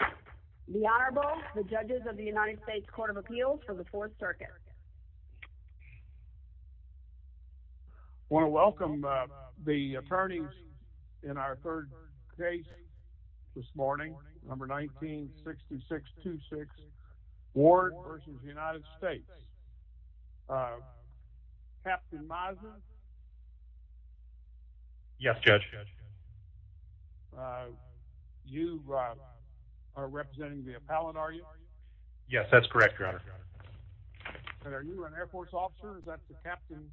The Honorable, the judges of the United States Court of Appeals for the Fourth Circuit. I want to welcome the attorneys in our third case this morning, number 19-6626, Ward v. United States. Captain Mazza? Yes, Judge. Judge, you are representing the appellate, are you? Yes, that's correct, Your Honor. And are you an Air Force officer? Is that the captain's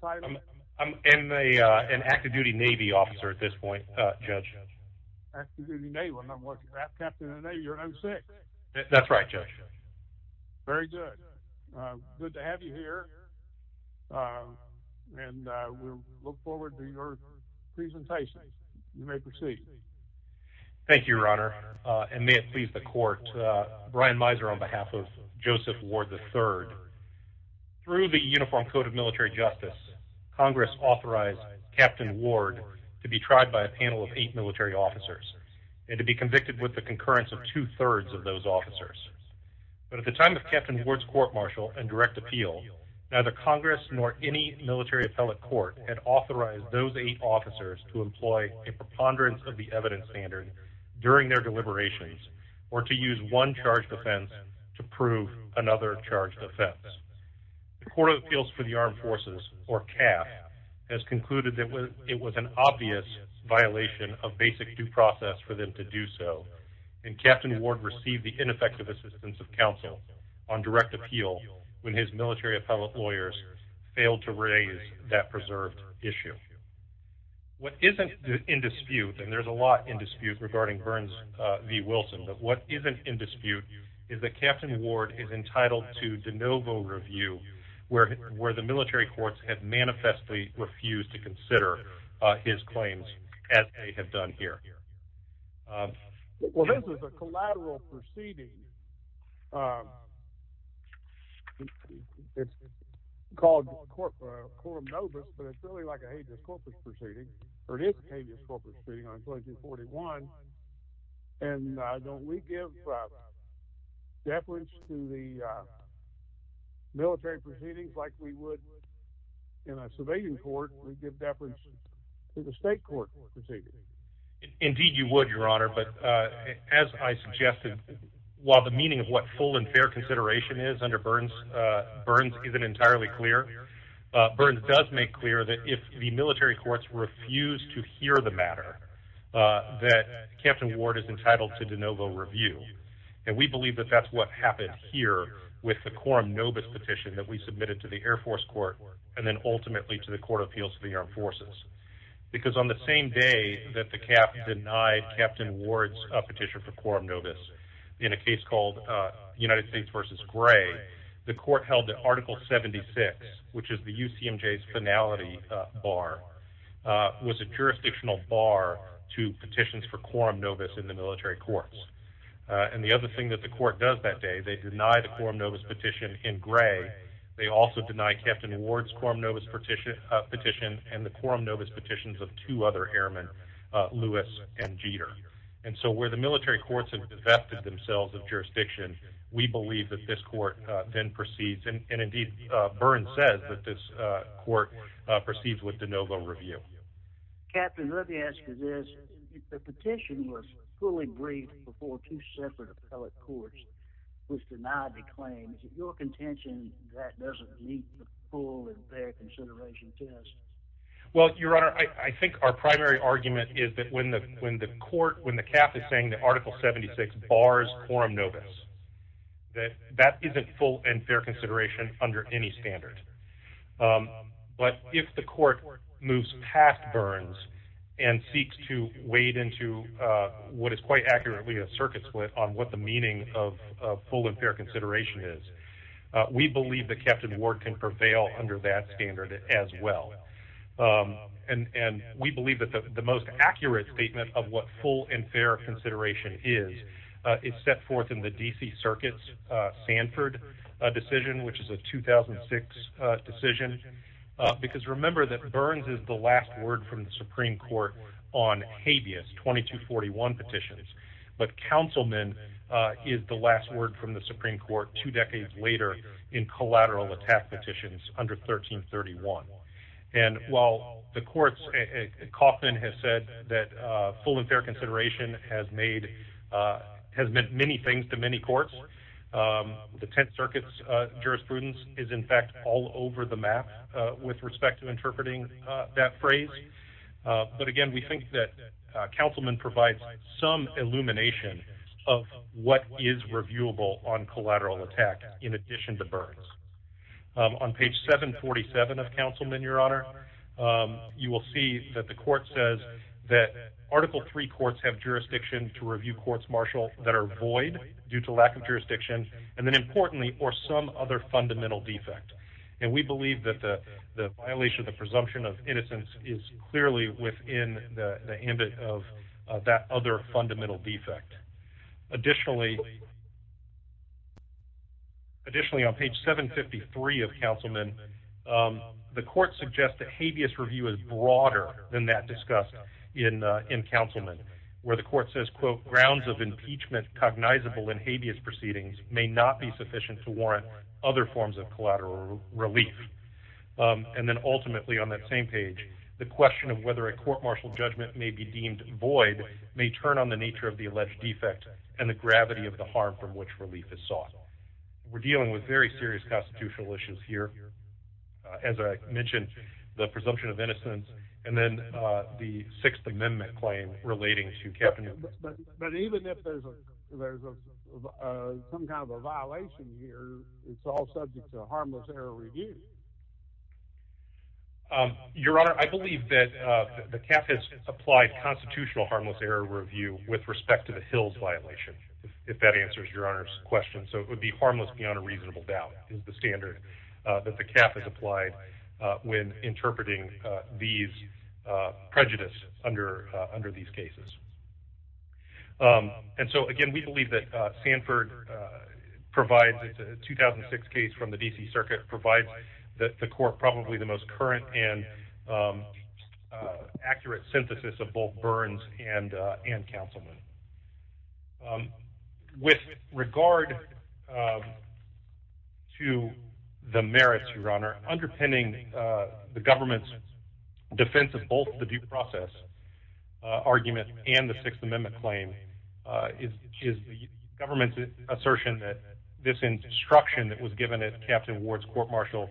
title? I'm an active-duty Navy officer at this point, Judge. Active-duty Navy. Well, then what's that? Captain of the Navy. You're 06. That's right, Judge. Very good. Good to have you here. And we look forward to your presentation. You may proceed. Thank you, Your Honor. And may it please the Court, Brian Mizer on behalf of Joseph Ward, III. Through the Uniform Code of Military Justice, Congress authorized Captain Ward to be tried by a panel of eight military officers and to be convicted with the concurrence of two-thirds of those officers. But at the time of Captain Ward's court-martial and direct appeal, neither Congress nor any military appellate court had authorized those eight officers to employ a preponderance of the evidence standard during their deliberations or to use one charged offense to prove another charged offense. The Court of Appeals for the Armed Forces, or CAF, has concluded that it was an obvious violation of basic due process for them to do so, and Captain Ward received the ineffective assistance of counsel on direct appeal when his military appellate lawyers failed to raise that preserved issue. What isn't in dispute, and there's a lot in dispute regarding Burns v. Wilson, but what isn't in dispute is that Captain Ward is entitled to de novo review, where the military courts have manifestly refused to review the evidence. I'm not sure what the reason is for that. Well, this is a collateral proceeding. It's called quorum nobis, but it's really like a habeas corpus proceeding, or it is a habeas corpus proceeding on page 41. And don't we give deference to the military proceedings like we would in a civilian court? We give deference as I suggested, while the meaning of what full and fair consideration is under Burns isn't entirely clear, Burns does make clear that if the military courts refuse to hear the matter, that Captain Ward is entitled to de novo review. And we believe that that's what happened here with the quorum nobis petition that we submitted to the Air Force Court, and then ultimately to the Court of Appeals for the Armed Forces. Because on the same day that the CAF denied Captain Ward's petition for quorum nobis in a case called United States versus Gray, the court held that Article 76, which is the UCMJ's finality bar, was a jurisdictional bar to petitions for quorum nobis in the military courts. And the other thing that the court does that day, they deny the quorum nobis petition in Gray. They also deny Captain Ward's quorum nobis petition and the quorum nobis petitions of two other airmen, Lewis and Jeter. And so where the military courts have divested themselves of jurisdiction, we believe that this court then proceeds, and indeed Burns says that this court proceeds with de novo review. Captain, let me ask you this. The petition was fully briefed before two separate appellate courts was denied the claim. Is it your contention that doesn't meet the full and fair consideration test? Well, Your Honor, I think our primary argument is that when the when the court, when the CAF is saying that Article 76 bars quorum nobis, that that isn't full and fair consideration under any standard. But if the court moves past Burns and seeks to wade into what is quite accurately a believe that Captain Ward can prevail under that standard as well. And we believe that the most accurate statement of what full and fair consideration is, is set forth in the D.C. Circuit's Sanford decision, which is a 2006 decision. Because remember that Burns is the last word from the Supreme Court on habeas 2241 petitions. But Councilman is the last word from the Supreme Court two decades later in collateral attack petitions under 1331. And while the courts coffin has said that full and fair consideration has made has meant many things to many courts, the 10th Circuit's jurisprudence is in fact all over the map with respect to interpreting that phrase. But again, we think that Councilman provides some illumination of what is reviewable on collateral attack in addition to Burns. On page 747 of Councilman, Your Honor, you will see that the court says that Article three courts have jurisdiction to review courts martial that are void due to lack of jurisdiction. And then importantly, or some other fundamental defect. And we believe that the violation of the presumption of innocence is clearly within the that other fundamental defect. Additionally, additionally, on page 753 of Councilman, the court suggests that habeas review is broader than that discussed in in Councilman, where the court says, quote, grounds of impeachment cognizable in habeas proceedings may not be sufficient to warrant other forms of collateral relief. And then ultimately, on that same page, the question of whether a court martial judgment may be deemed void may turn on the nature of the alleged defect and the gravity of the harm from which relief is sought. We're dealing with very serious constitutional issues here. As I mentioned, the presumption of innocence and then the Sixth Amendment claim relating to Captain. But even if there's a there's a some kind of a violation here, it's all subject to constitutional harmless error review with respect to the Hills violation, if that answers your honor's question. So it would be harmless beyond a reasonable doubt is the standard that the cap is applied when interpreting these prejudice under under these cases. And so again, we believe that Sanford provides a 2006 case from the D.C. Circuit provides that the court probably the most current and accurate synthesis of both Burns and and Councilman. With regard to the merits, your honor, underpinning the government's defense of both the due process argument and the Sixth Amendment claim is the government's assertion that this destruction that was given at Captain Ward's court-martial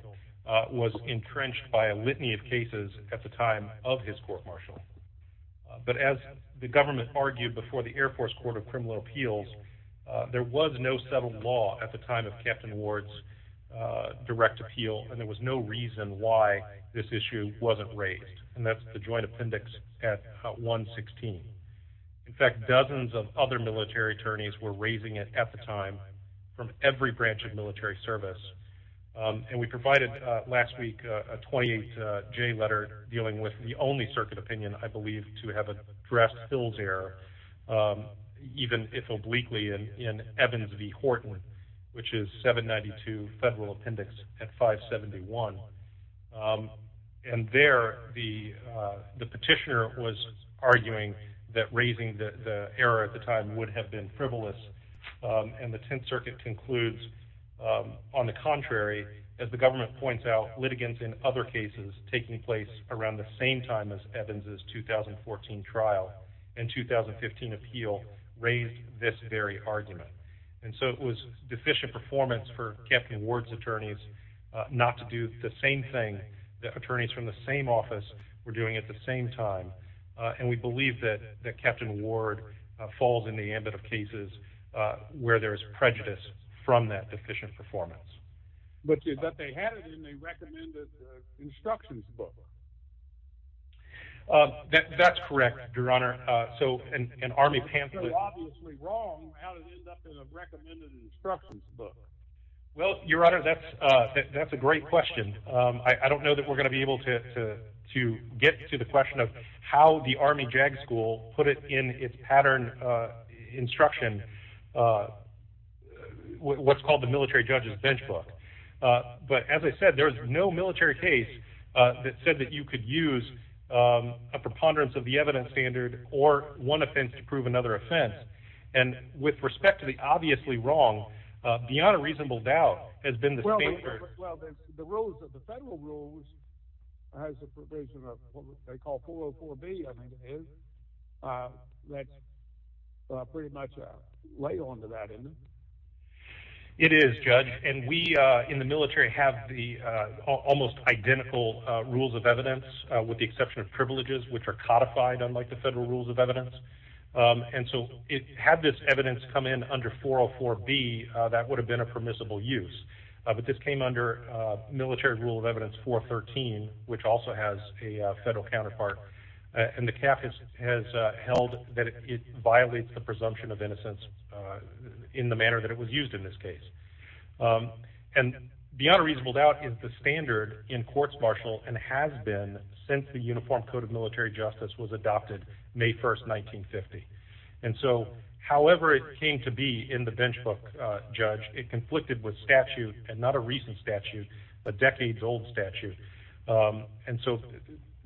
was entrenched by a litany of cases at the time of his court-martial. But as the government argued before the Air Force Court of Criminal Appeals, there was no settled law at the time of Captain Ward's direct appeal, and there was no reason why this issue wasn't raised. And that's the joint appendix at 116. In fact, dozens of other military attorneys were raising it at the time from every branch of military service. And we provided last week a 28-J letter dealing with the only circuit opinion, I believe, to have addressed Hills' error, even if obliquely, in Evans v. Horton, which is 792 Federal Appendix at 571. And there, the petitioner was arguing that raising the error at the time would have been frivolous. And the Tenth Circuit concludes, on the contrary, as the government points out, litigants in other cases taking place around the same time as Evans' 2014 trial and 2015 appeal raised this very argument. And so it was deficient performance for Captain Ward's attorneys not to do the same thing that attorneys from the same office were doing at the same time. And we believe that Captain Ward falls in the ambit of cases where there is prejudice from that deficient performance. But they had it in a recommended instructions book. That's correct, Your Honor. So an Army pamphlet... You're obviously wrong. How did it end up in a recommended instructions book? Well, Your Honor, that's a great question. I don't know that we're going to be able to get to the question of how the Army JAG school put it in its pattern instruction, what's called the military judge's bench book. But as I said, there's no military case that said that you could use a preponderance of the evidence standard or one offense to prove another offense. And with respect to the obviously wrong, beyond a reasonable doubt, has been the state... Well, the rules of the federal rules has a provision of what they call 404B, I think it is. That's pretty much a lay on to that, isn't it? It is, Judge. And we in the military have the almost identical rules of evidence, with the exception of privileges, which are codified unlike the federal rules of evidence. And so it had this evidence come in under 404B, that would have been a permissible use. But this came under military rule of evidence 413, which also has a federal counterpart. And the CAF has held that it violates the presumption of innocence in the manner that it was used in this case. And beyond a reasonable doubt is the standard in courts martial and has been since the Uniform Code of Military Justice was adopted May 1st, 1950. And so however it came to be in the bench book, Judge, it conflicted with statute and not a recent statute, a decades old statute. And so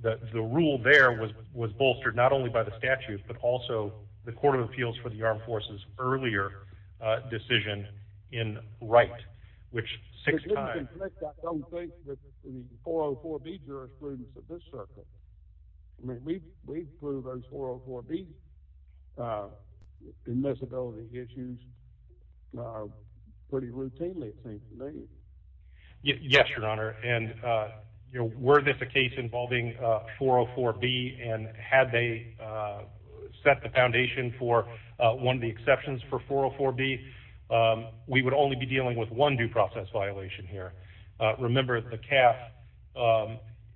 the rule there was bolstered not only by the statute, but also the Court of Appeals for the Armed Forces earlier decision in Wright, which six times... It didn't conflict, I don't think, with the 404B jurisprudence of this circuit. I mean, we've proved those 404B admissibility issues pretty routinely, I think. Yes, Your Honor. And were this a case involving 404B and had they set the foundation for one of the exceptions for 404B, we would only be dealing with one due process violation here. Remember, the CAF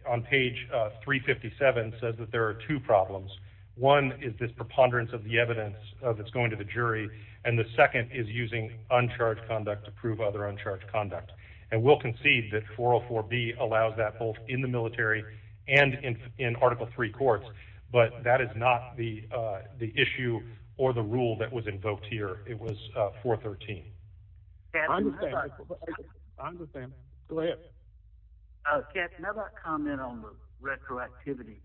on page 357 says that there are two problems. One is this preponderance of the evidence that's going to the jury, and the second is using uncharged conduct to prove other uncharged conduct. And we'll concede that 404B allows that both in the military and in Article III courts, but that is not the issue or the rule that was invoked here. It was 413. I understand. Go ahead. Captain, how about comment on the retroactivity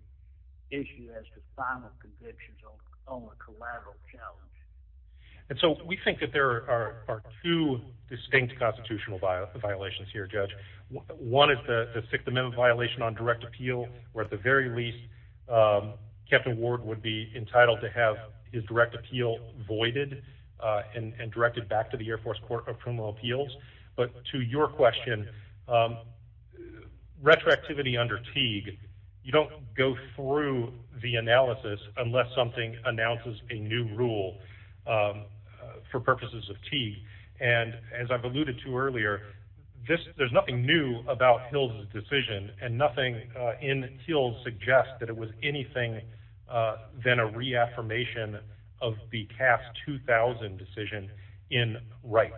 issue as to final convictions on a collateral challenge? And so we think that there are two distinct constitutional violations here, Judge. One is the Sixth Amendment violation on direct appeal, where at the very least, Captain Ward would be entitled to have his direct appeal voided and directed back to the Air Force Court of Criminal Appeals. But to your question, retroactivity under Teague, you don't go through the analysis unless something announces a new rule for purposes of Teague. And as I've alluded to earlier, there's nothing new about Hills' decision, and nothing in Hills suggests that it was anything than a reaffirmation of the CAF 2000 decision in Wright.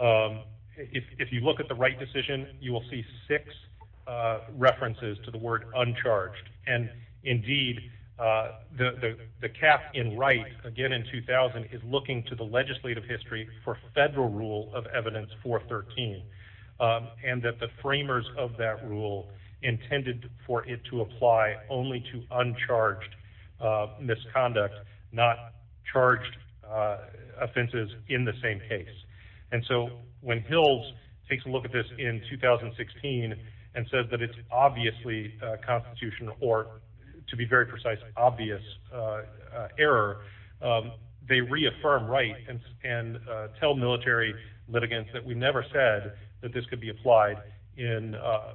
If you look at the Wright decision, you will see six references to the word uncharged. And indeed, the CAF in Wright, again, in 2000, is looking to the legislative history for federal rule of evidence 413, and that the uncharged misconduct, not charged offenses in the same case. And so when Hills takes a look at this in 2016, and says that it's obviously a constitutional or, to be very precise, obvious error, they reaffirm Wright and tell military litigants that we never said that this could be uncharged.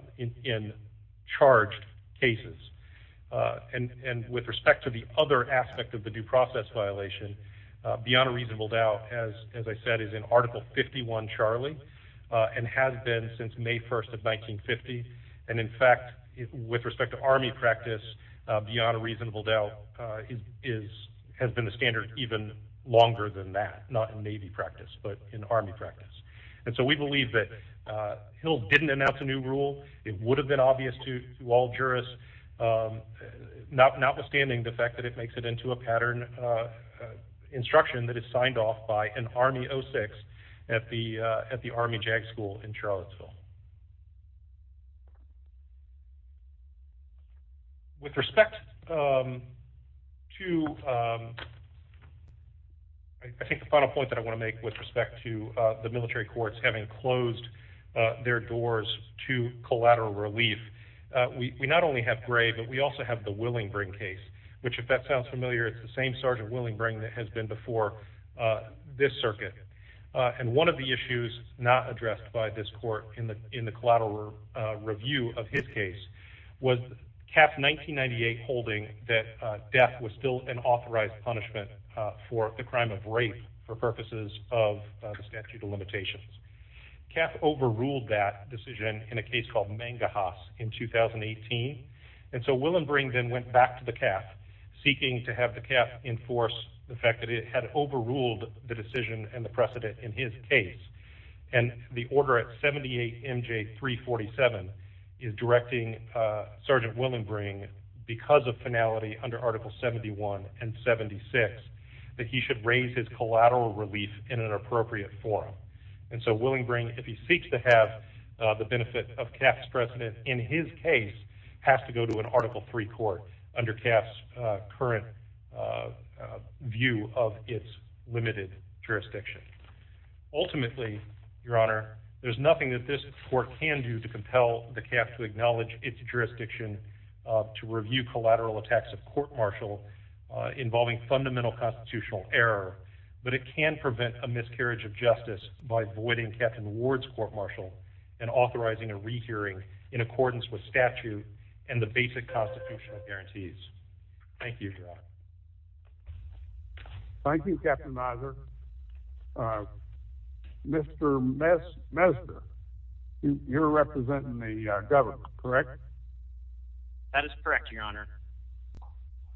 And with respect to the other aspect of the due process violation, beyond a reasonable doubt, as I said, is in Article 51 Charlie, and has been since May 1st of 1950. And in fact, with respect to Army practice, beyond a reasonable doubt, has been the standard even longer than that, not in Navy practice, but in Army practice. And so we believe that didn't announce a new rule. It would have been obvious to all jurists, notwithstanding the fact that it makes it into a pattern instruction that is signed off by an Army 06 at the Army JAG school in Charlottesville. With respect to, I think the final point that I want to make with respect to the military courts having closed their doors to collateral relief, we not only have Gray, but we also have the Willingbring case, which if that sounds familiar, it's the same Sergeant Willingbring that has been before this circuit. And one of the issues not addressed by this court in the collateral review of his case was CAF 1998 holding that death was still authorized punishment for the crime of rape for purposes of the statute of limitations. CAF overruled that decision in a case called Mangahas in 2018. And so Willingbring then went back to the CAF, seeking to have the CAF enforce the fact that it had overruled the decision and the precedent in his case. And the order at 78 MJ 347 is directing Sergeant Willingbring, because of finality under article 71 and 76, that he should raise his collateral relief in an appropriate forum. And so Willingbring, if he seeks to have the benefit of CAF's precedent in his case, has to go to an article three court under CAF's current view of its limited jurisdiction. Ultimately, your honor, there's nothing that this court can do to compel the CAF to acknowledge its jurisdiction to review collateral attacks of court-martial involving fundamental constitutional error, but it can prevent a miscarriage of justice by voiding Captain Ward's court-martial and authorizing a rehearing in accordance with statute and the basic constitutional guarantees. Thank you, your honor. Thank you, Captain Miser. Uh, Mr. Mess, Messner, you're representing the government, correct? That is correct, your honor.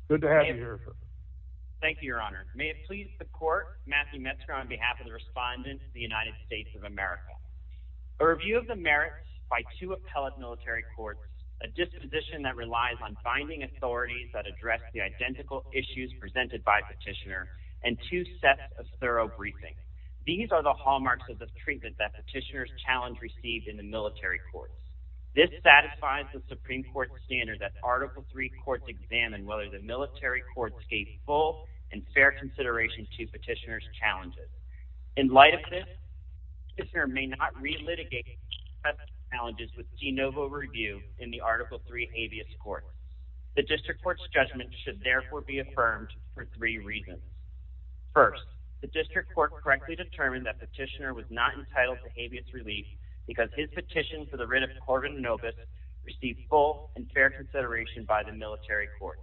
Good to have you here, sir. Thank you, your honor. May it please the court, Matthew Messner, on behalf of the respondents of the United States of America. A review of the merits by two appellate military courts, a disposition that relies on finding authorities that address the identical issues presented by petitioner, and two sets of thorough briefings. These are the hallmarks of the treatment that petitioner's challenge received in the military courts. This satisfies the Supreme Court standard that article three courts examine whether the military courts gave full and fair consideration to petitioner's challenges. In light of this, the petitioner may not relitigate such challenges with de novo review in the article three habeas court. The district court's judgment should therefore be affirmed for three reasons. First, the district court correctly determined that petitioner was not entitled to habeas relief because his petition for the writ of Corvin Novus received full and fair consideration by the military court.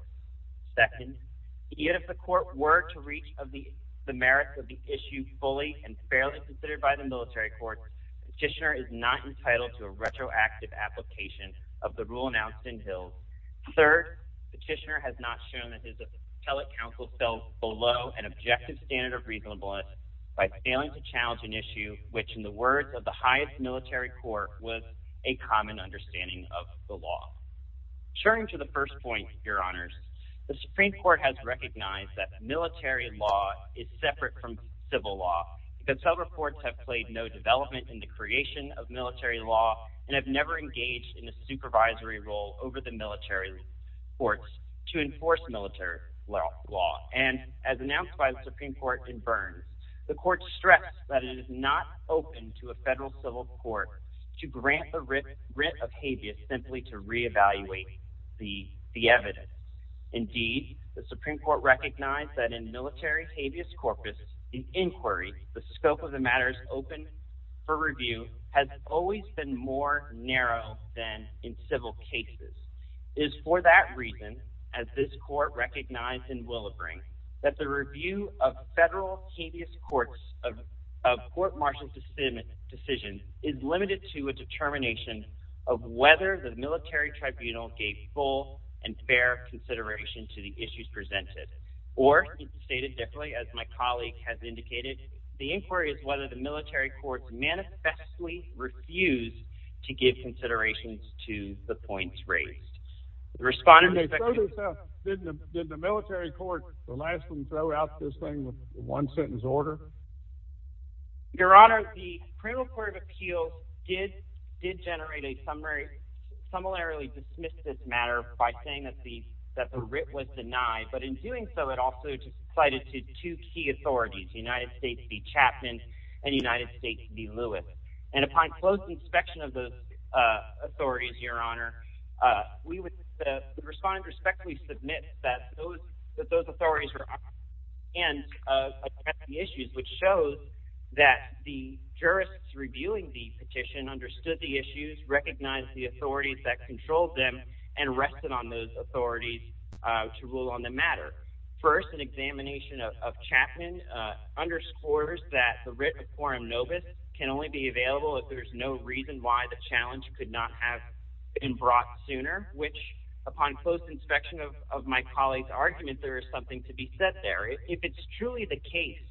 Second, yet if the court were to reach of the merits of the issue fully and fairly considered by the military court, petitioner is not entitled to a retroactive application of the rule announced in Hills. Third, petitioner has not shown that his appellate counsel fell below an objective standard of reasonableness by failing to challenge an issue which, in the words of the highest military court, was a common understanding of the law. Turning to the first point, Your Honors, the Supreme Court has recognized that military law is separate from civil law because several courts have played no development in the creation of military law and have never engaged in a military court to enforce military law. And as announced by the Supreme Court in Burns, the court stressed that it is not open to a federal civil court to grant the writ of habeas simply to reevaluate the evidence. Indeed, the Supreme Court recognized that in military habeas corpus, the inquiry, the scope of the matters open for review has always been more narrow than in habeas. It is for that reason, as this court recognized in Willowbring, that the review of federal habeas courts of court-martial decisions is limited to a determination of whether the military tribunal gave full and fair consideration to the issues presented. Or, stated differently, as my colleague has indicated, the inquiry is whether the military courts manifestly refuse to give considerations to the points raised. Did the military court allow them to throw out this thing with one sentence order? Your Honor, the criminal court of appeals did generate a summarily dismissive matter by saying that the writ was denied. But in doing so, it also cited two key authorities, the United States v. Chapman and the United States v. Lewis. And upon close inspection of those authorities, Your Honor, the respondents respectfully submit that those authorities were honest and addressed the issues, which shows that the jurists reviewing the petition understood the issues, recognized the authorities that controlled them, and rested on those authorities to rule on the matter. First, an examination of Chapman underscores that the there's no reason why the challenge could not have been brought sooner, which, upon close inspection of my colleague's argument, there is something to be said there. If it's truly the case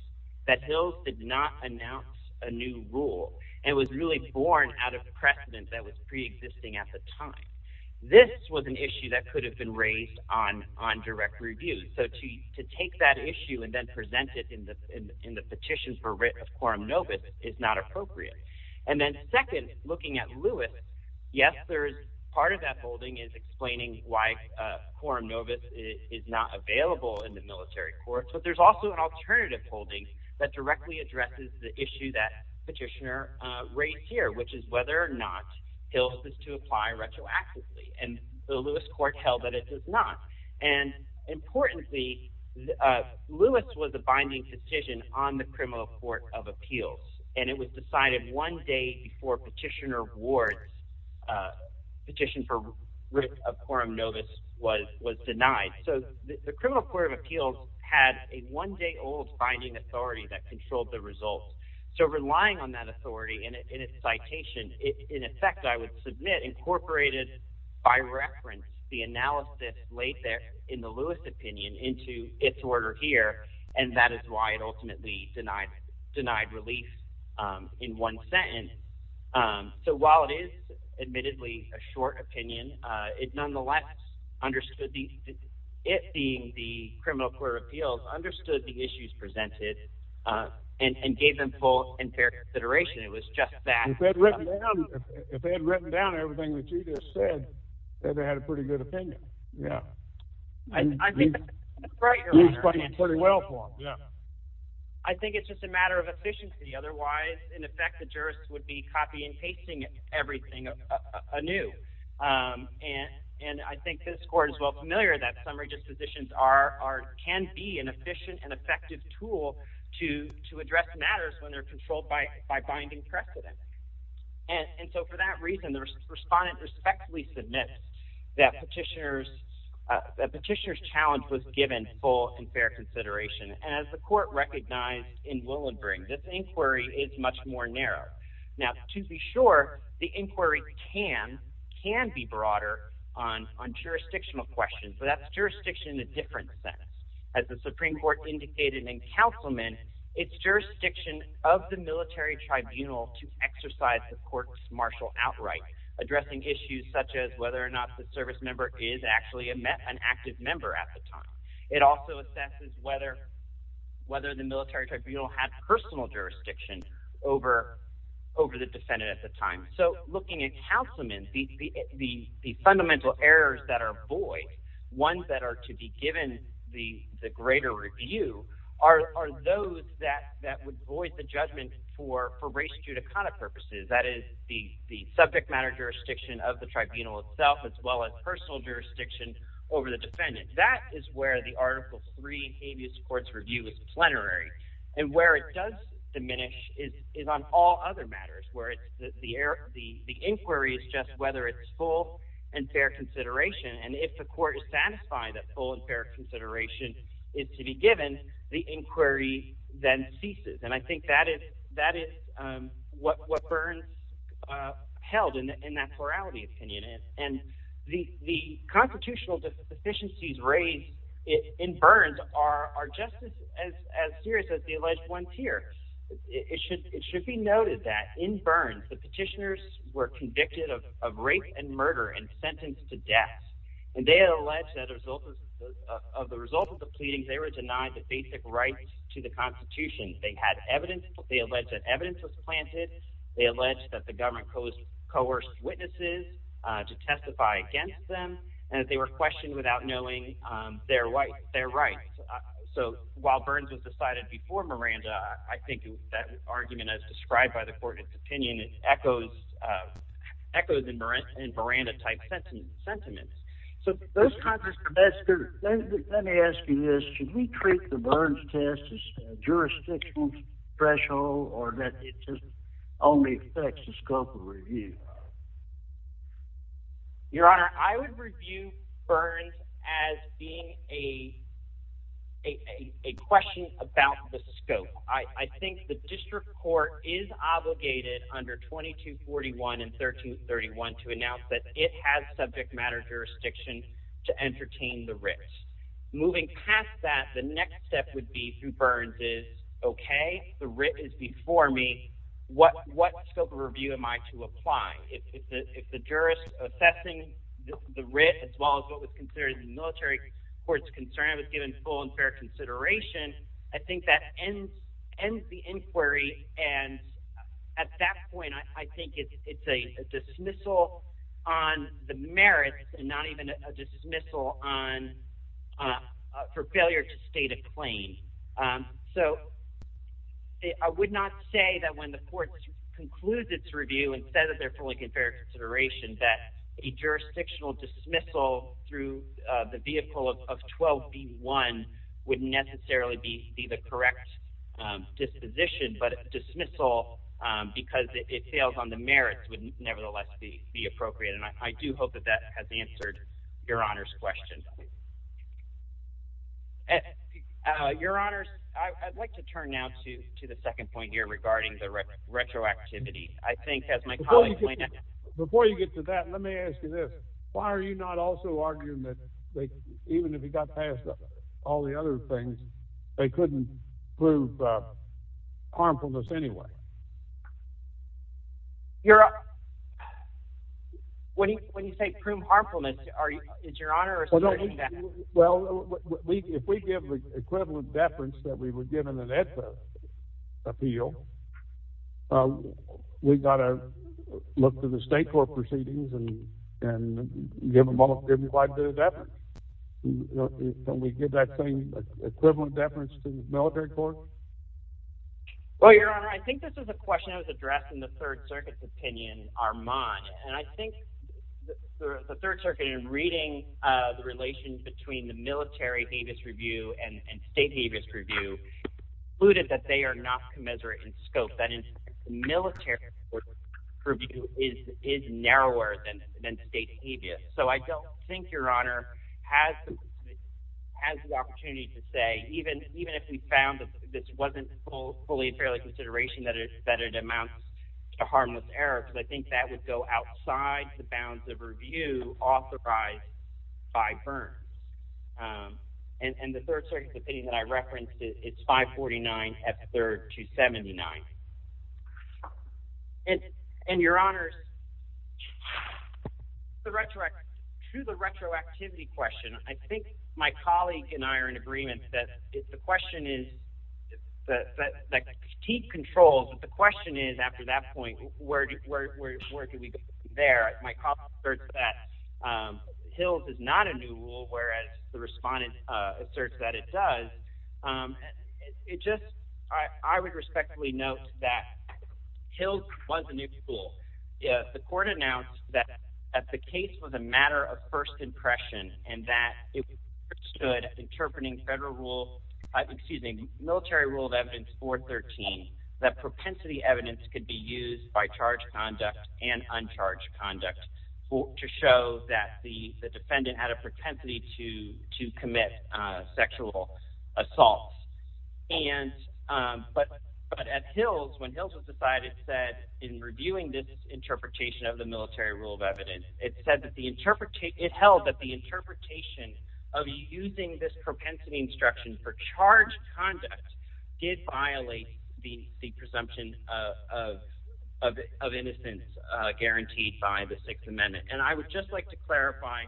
that Hills did not announce a new rule and was really born out of precedent that was preexisting at the time, this was an issue that could have been raised on direct review. So to take that issue and then present it in the petition for writ of quorum novis is not appropriate. And then second, looking at Lewis, yes, part of that holding is explaining why quorum novis is not available in the military courts, but there's also an alternative holding that directly addresses the issue that Petitioner raised here, which is whether or not Hills is to apply retroactively. And the Lewis court held that it does not. And importantly, Lewis was a binding petition on the Criminal Court of Appeals, and it was decided one day before Petitioner Ward's petition for writ of quorum novis was denied. So the Criminal Court of Appeals had a one-day-old binding authority that controlled the results. So relying on that by reference, the analysis laid there in the Lewis opinion into its order here, and that is why it ultimately denied relief in one sentence. So while it is, admittedly, a short opinion, it nonetheless understood, it being the Criminal Court of Appeals, understood the issues presented and gave them full and fair consideration. It was just that. If they had written down everything that you just said, they'd have had a pretty good opinion. You explained it pretty well for them. I think it's just a matter of efficiency. Otherwise, in effect, the jurists would be copying and pasting everything anew. And I think this court is well familiar that summary dispositions can be an efficient and effective tool to address matters when they're controlled by binding precedent. And so for that reason, the respondent respectfully submits that Petitioner's challenge was given full and fair consideration. And as the court recognized in Willenbring, this inquiry is much more narrow. Now, to be sure, the inquiry can be broader on jurisdictional questions. So that's jurisdiction in a different sense. As the to exercise the court's martial outright, addressing issues such as whether or not the service member is actually an active member at the time. It also assesses whether the military tribunal had personal jurisdiction over the defendant at the time. So looking at councilmen, the fundamental errors that are void, ones that are to be given the greater review, are those that would void the judgment for race judicata purposes. That is the subject matter jurisdiction of the tribunal itself, as well as personal jurisdiction over the defendant. That is where the Article III habeas courts review is plenary. And where it does diminish is on all other matters, where the inquiry is just whether it's full and fair consideration. And if the court is satisfied that full and fair consideration is to be given, the inquiry then ceases. And I think that is what Burns held in that plurality opinion. And the constitutional deficiencies raised in Burns are just as serious as the alleged ones here. It should be noted that in Burns, the petitioners were convicted of rape and murder and sentenced to death. And they had alleged that as a result of the result of the pleadings, they were denied the basic rights to the Constitution. They had evidence. They alleged that evidence was planted. They alleged that the government coerced witnesses to testify against them, and that they were questioned without knowing their rights. So while Burns was decided before Miranda, I think that argument as described by the court of opinion, it echoes in Miranda-type sentiments. So let me ask you this. Should we treat the Burns test as a jurisdictional threshold, or that it just only affects the scope of review? Your Honor, I would review Burns as being a question about the scope. I think the District Court is obligated under 2241 and 1331 to announce that it has subject matter jurisdiction to entertain the writ. Moving past that, the next step would be through Burns is, okay, the writ is before me. What scope of review am I to apply? If the jurist assessing the writ as well as what was considered in the military court's concern was given full and fair consideration, I think that ends the inquiry. And at that point, I think it's a dismissal on the merits and not even a dismissal for failure to state a claim. So I would not say that when the court concludes its review and says that they're fully in fair consideration that a jurisdictional dismissal through the vehicle of 12b1 would necessarily be the correct disposition. But a dismissal because it fails on the merits would nevertheless be appropriate. And I do hope that that has answered Your Honor's question. Your Honor, I'd like to turn now to the second point here regarding the retroactivity. I think as my colleague pointed out... Before you get to that, let me ask you this. Why are you not also arguing that even if he got past all the other things, they couldn't prove harmfulness anyway? Well, if we give the equivalent deference that we were given in that appeal, we've got to look to the state court proceedings and give them quite a bit of deference. Can we give that same equivalent deference to the military court? Well, Your Honor, I think that's a good point. I think that's a good point. This is a question that was addressed in the Third Circuit's opinion, Armand. And I think the Third Circuit, in reading the relations between the military habeas review and state habeas review, concluded that they are not commensurate in scope. That is, the military review is narrower than state habeas. So I don't think Your Honor has the opportunity to say, even if we found that this wasn't fully and fairly consideration, that it amounts to harmless error, because I think that would go outside the bounds of review authorized by Byrne. And the Third Circuit's opinion that I referenced, it's 549 F3rd 279. And Your Honor, to the retroactivity question, I think my colleague and I are in agreement that the question is, that critique controls, but the question is, after that point, where do we go from there? My colleague asserts that Hills is not a new rule, whereas the respondent asserts that it does. I would respectfully note that Hills was a new rule. The court announced that the case was a matter of first impression, and that it was understood, interpreting military rule of evidence 413, that propensity evidence could be used by charged conduct and uncharged conduct to show that the defendant had a propensity to commit sexual assault. But at Hills, when Hills was testified, it said, in reviewing this interpretation of the military rule of evidence, it held that the interpretation of using this propensity instruction for charged conduct did violate the presumption of innocence guaranteed by the Sixth Amendment. And I would just like to clarify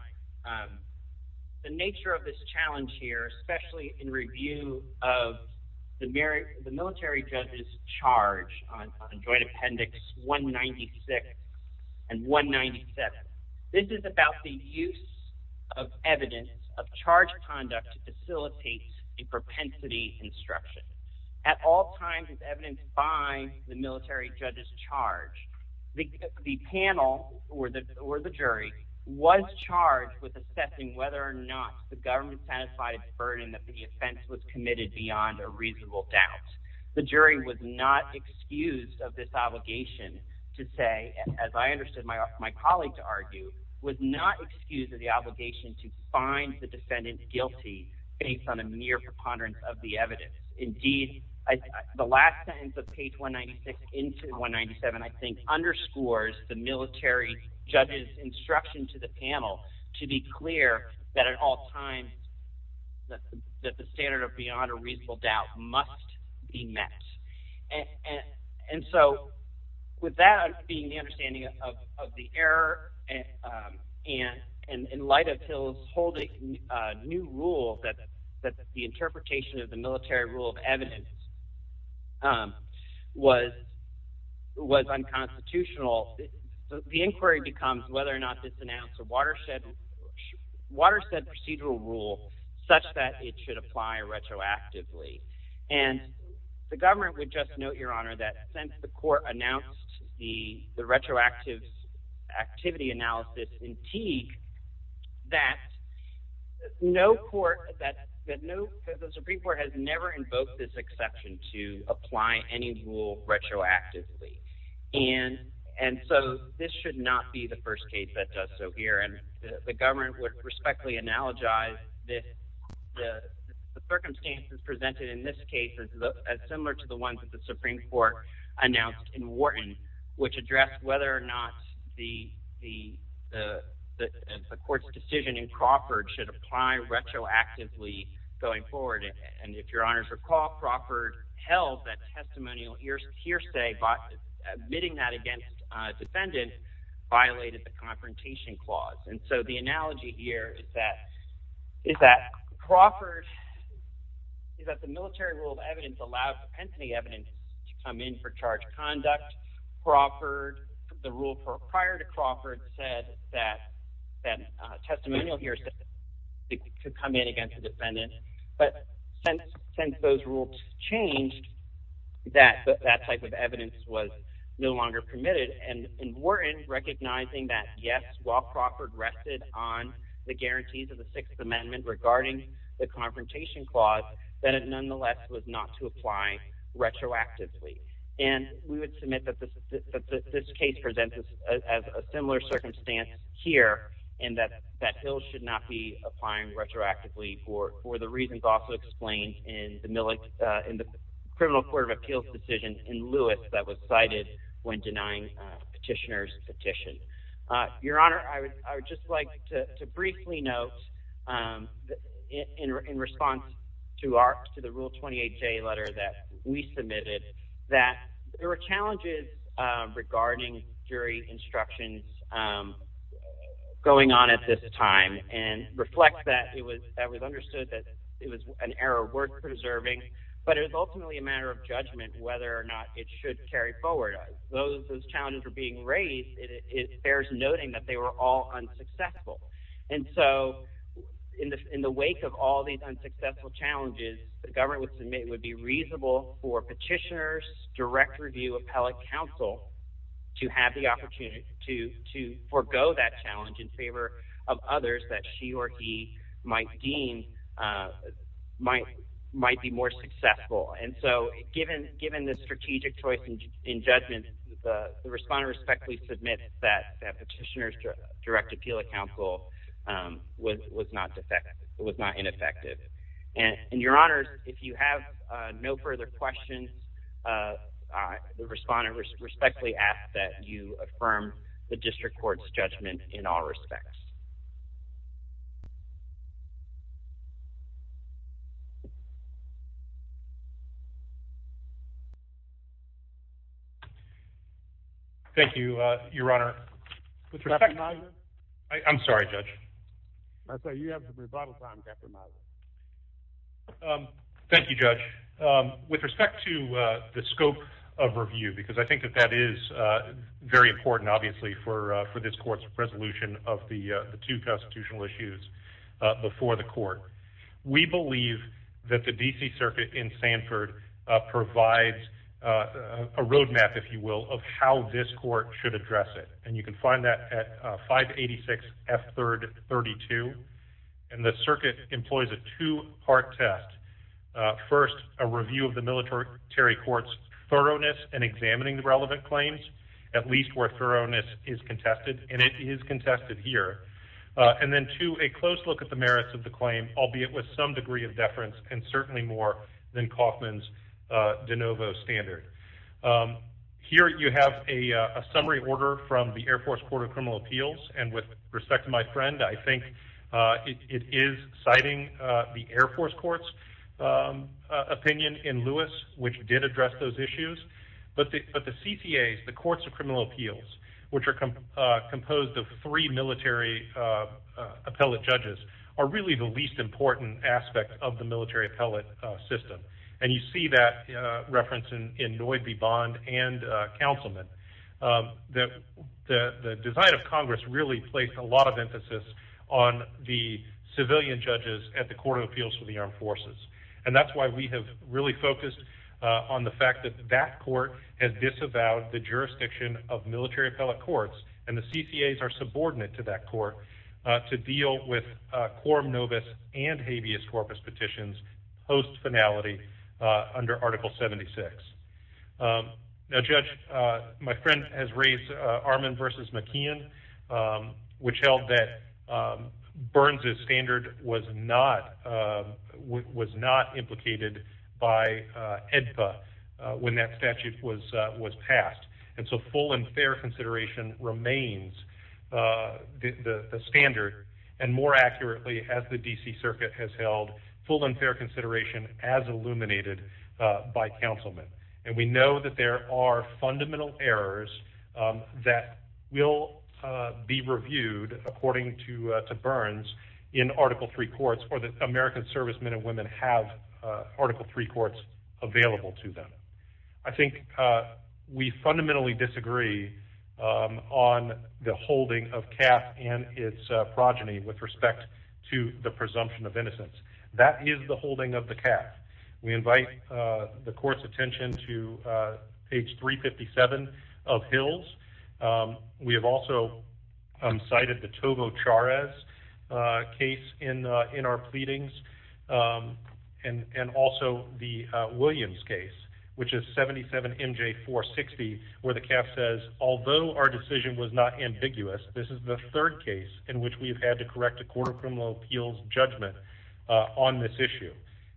the nature of this challenge here, especially in review of the military judge's charge on Joint Appendix 196 and 197. This is about the use of evidence of charged conduct to facilitate a propensity instruction. At all times, as evidenced by the military judge's charge, the panel, or the jury, was charged with assessing whether or not the government satisfied its burden that the offense was committed beyond a reasonable doubt. The jury was not excused of this obligation to say, as I understood my colleague to argue, was not excused of the obligation to find the defendant guilty based on a mere preponderance of the evidence. Indeed, the last sentence of page 196 into 197, I think, underscores the military judge's instruction to the panel to be clear that at all times, that the standard of beyond a reasonable doubt must be met. And so, with that being the understanding of the error, and in light of Hills holding a new rule that the interpretation of the military rule of evidence was unconstitutional, the inquiry becomes whether or not this announced a watershed procedural rule such that it should apply retroactively. And the government would just note, Your Honor, that since the court announced the retroactive activity analysis in Teague, that the Supreme Court has never invoked this exception to apply any rule retroactively. And so, this should not be the first case that does so here. And the government would respectfully analogize that the circumstances presented in this case is similar to the ones that the Supreme Court announced in Wharton, which addressed whether or not the court's decision in Crawford should apply retroactively going forward. And if Your Honor recall, Crawford held that testimonial hearsay, but admitting that against defendants violated the confrontation clause. And so, the analogy here is that Crawford, is that the military rule of evidence allowed dependency evidence to come in for charge of conduct. Crawford, the rule prior to Crawford, said that that testimonial hearsay could come in against a defendant. But since those rules changed, that type of evidence was no longer permitted. And in Wharton, recognizing that, while Crawford rested on the guarantees of the Sixth Amendment regarding the confrontation clause, that it nonetheless was not to apply retroactively. And we would submit that this case presents as a similar circumstance here, and that Hill should not be applying retroactively for the reasons also explained in the criminal court of appeals decision in Lewis that was cited when denying petitioner's petition. Your Honor, I would just like to briefly note, in response to the Rule 28J letter that we submitted, that there were challenges regarding jury instructions going on at this time, and reflect that it was understood that it was an error worth preserving, but it was ultimately a matter of judgment whether or not it should carry forward. As those challenges were being raised, it bears noting that they were all unsuccessful. And so, in the wake of all these unsuccessful challenges, the government would submit it would be reasonable for petitioner's direct review appellate counsel to have the opportunity to forego that challenge in favor of others that she or he might deem might be more successful. And so, given the strategic choice in judgment, the respondent respectfully submits that petitioner's direct appeal counsel was not ineffective. And Your Honor, if you have no further questions, the respondent respectfully asks that you affirm the district court's judgment in all respects. Thank you, Your Honor. I'm sorry, Judge. I say you have some rebuttal time, Captain Miser. Thank you, Judge. With respect to the scope of review, because I think that that is very important, obviously, for this court's resolution of the two constitutional issues before the court, we believe that the D.C. Circuit in Sanford provides a roadmap, if you will, of how this court should address it. And you can find that at 586 F. 32. And the circuit employs a two-part test. First, a review of the military court's thoroughness in examining the relevant claims, at least where thoroughness is contested, and it is contested here. And then, two, a close look at the merits of the claim, albeit with some degree of deference and certainly more than Kaufman's de novo standard. Here, you have a summary order from the Air Force Court of Criminal Appeals. And with respect to my court's opinion in Lewis, which did address those issues, but the CTAs, the Courts of Criminal Appeals, which are composed of three military appellate judges, are really the least important aspect of the military appellate system. And you see that reference in Noye B. Bond and Councilman. The design of Congress really placed a lot of emphasis on the civilian judges at the Courts of Criminal Appeals for the Armed Forces. And that's why we have really focused on the fact that that court has disavowed the jurisdiction of military appellate courts, and the CCAs are subordinate to that court, to deal with quorum novus and habeas corpus petitions post-finality under Article 76. Now, Judge, my friend has raised Armand v. McKeon, which held that was not implicated by AEDPA when that statute was passed. And so full and fair consideration remains the standard, and more accurately, as the D.C. Circuit has held, full and fair consideration as illuminated by Councilman. And we know that there are fundamental errors that will be reviewed, according to Burns, in Article III courts, or that American servicemen and women have Article III courts available to them. I think we fundamentally disagree on the holding of calf and its progeny with respect to the presumption of innocence. That is the holding of the calf. We invite the court's attention to page 357 of Hills. We have also cited the Tovo Charez case in our pleadings, and also the Williams case, which is 77 M.J. 460, where the calf says, although our decision was not ambiguous, this is the third case in which we have had to correct a court of criminal appeals judgment on this issue.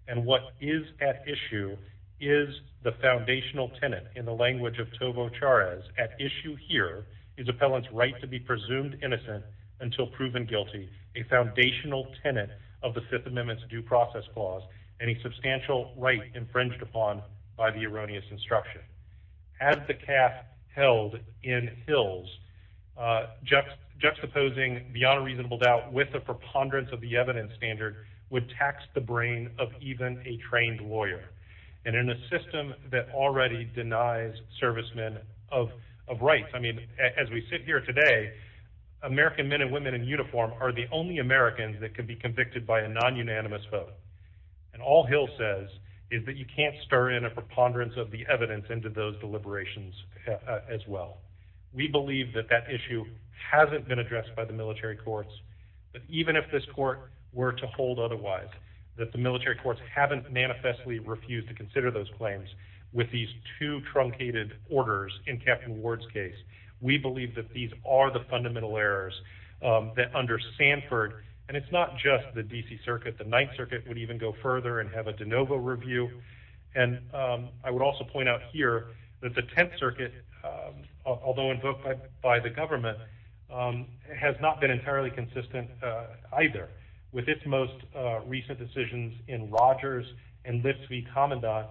And what is at issue is the foundational tenet in the language of Tovo Charez. At issue here is appellant's right to be presumed innocent until proven guilty, a foundational tenet of the Fifth Amendment's due process clause, and a substantial right infringed upon by the erroneous instruction. As the calf held in Hills, juxtaposing beyond a reasonable doubt with a preponderance of the evidence standard would tax the brain of even a trained lawyer. And in a system that already denies servicemen of rights, I mean, as we sit here today, American men and women in uniform are the only Americans that can be convicted by a non-unanimous vote. And all Hills says is that you can't stir in preponderance of the evidence into those deliberations as well. We believe that that issue hasn't been addressed by the military courts. But even if this court were to hold otherwise, that the military courts haven't manifestly refused to consider those claims with these two truncated orders in Captain Ward's case, we believe that these are the fundamental errors that under Sanford, and it's not just the D.C. Circuit, the Ninth Circuit would even go further and have a de novo review. And I would also point out here that the Tenth Circuit, although invoked by the government, has not been entirely consistent either. With its most recent decisions in Rogers and Lifts v. Commendant,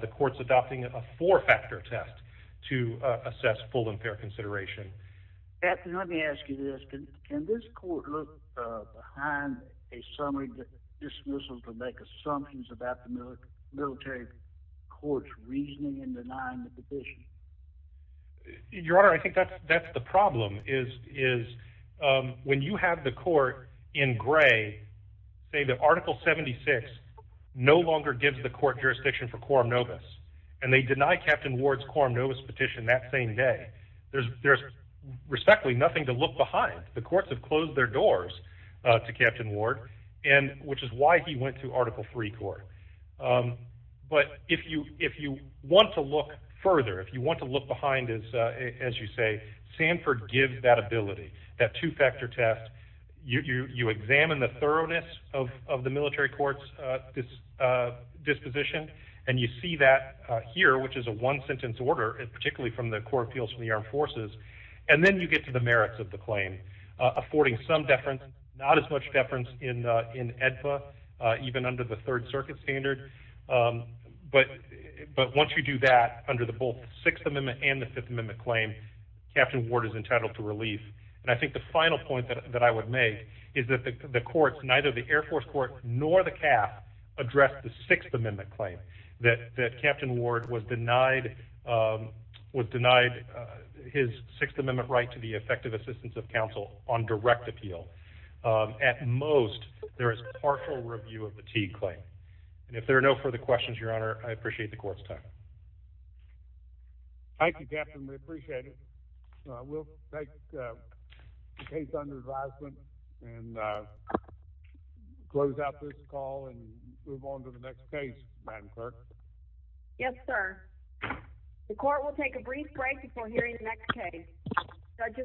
the court's adopting a four-factor test to assess full and fair consideration. Captain, let me ask you this. Can this court look behind a summary dismissal to make a summons about the military military courts reasoning and denying the petition? Your Honor, I think that's that's the problem is is when you have the court in gray, say that Article 76 no longer gives the court jurisdiction for quorum novus, and they deny Captain Ward's quorum novus petition that same day. There's respectfully nothing to look behind. The courts have closed their doors to Captain Ward, and which is why he went to Article III court. But if you want to look further, if you want to look behind, as you say, Sanford gives that ability, that two-factor test. You examine the thoroughness of the military court's disposition, and you see that here, which is a one-sentence order, particularly from the Court of Appeals for the Armed Forces, and then you get to the merits of the claim, affording some deference, not as much deference in in AEDPA, even under the Third Circuit standard. But but once you do that under the both Sixth Amendment and the Fifth Amendment claim, Captain Ward is entitled to relief. And I think the final point that that I would make is that the courts, neither the Air Force court nor the CAF, addressed the Sixth Amendment claim that that Captain Ward was denied was denied his Sixth Amendment right to the effective assistance of counsel on direct appeal. At most, there is partial review of the Teague claim. And if there are no further questions, Your Honor, I appreciate the court's time. Thank you, Captain. We appreciate it. We'll take the case under advisement and close out this call and move on to the next case, Madam Clerk. Yes, sir. The court will take a brief break before hearing the next case.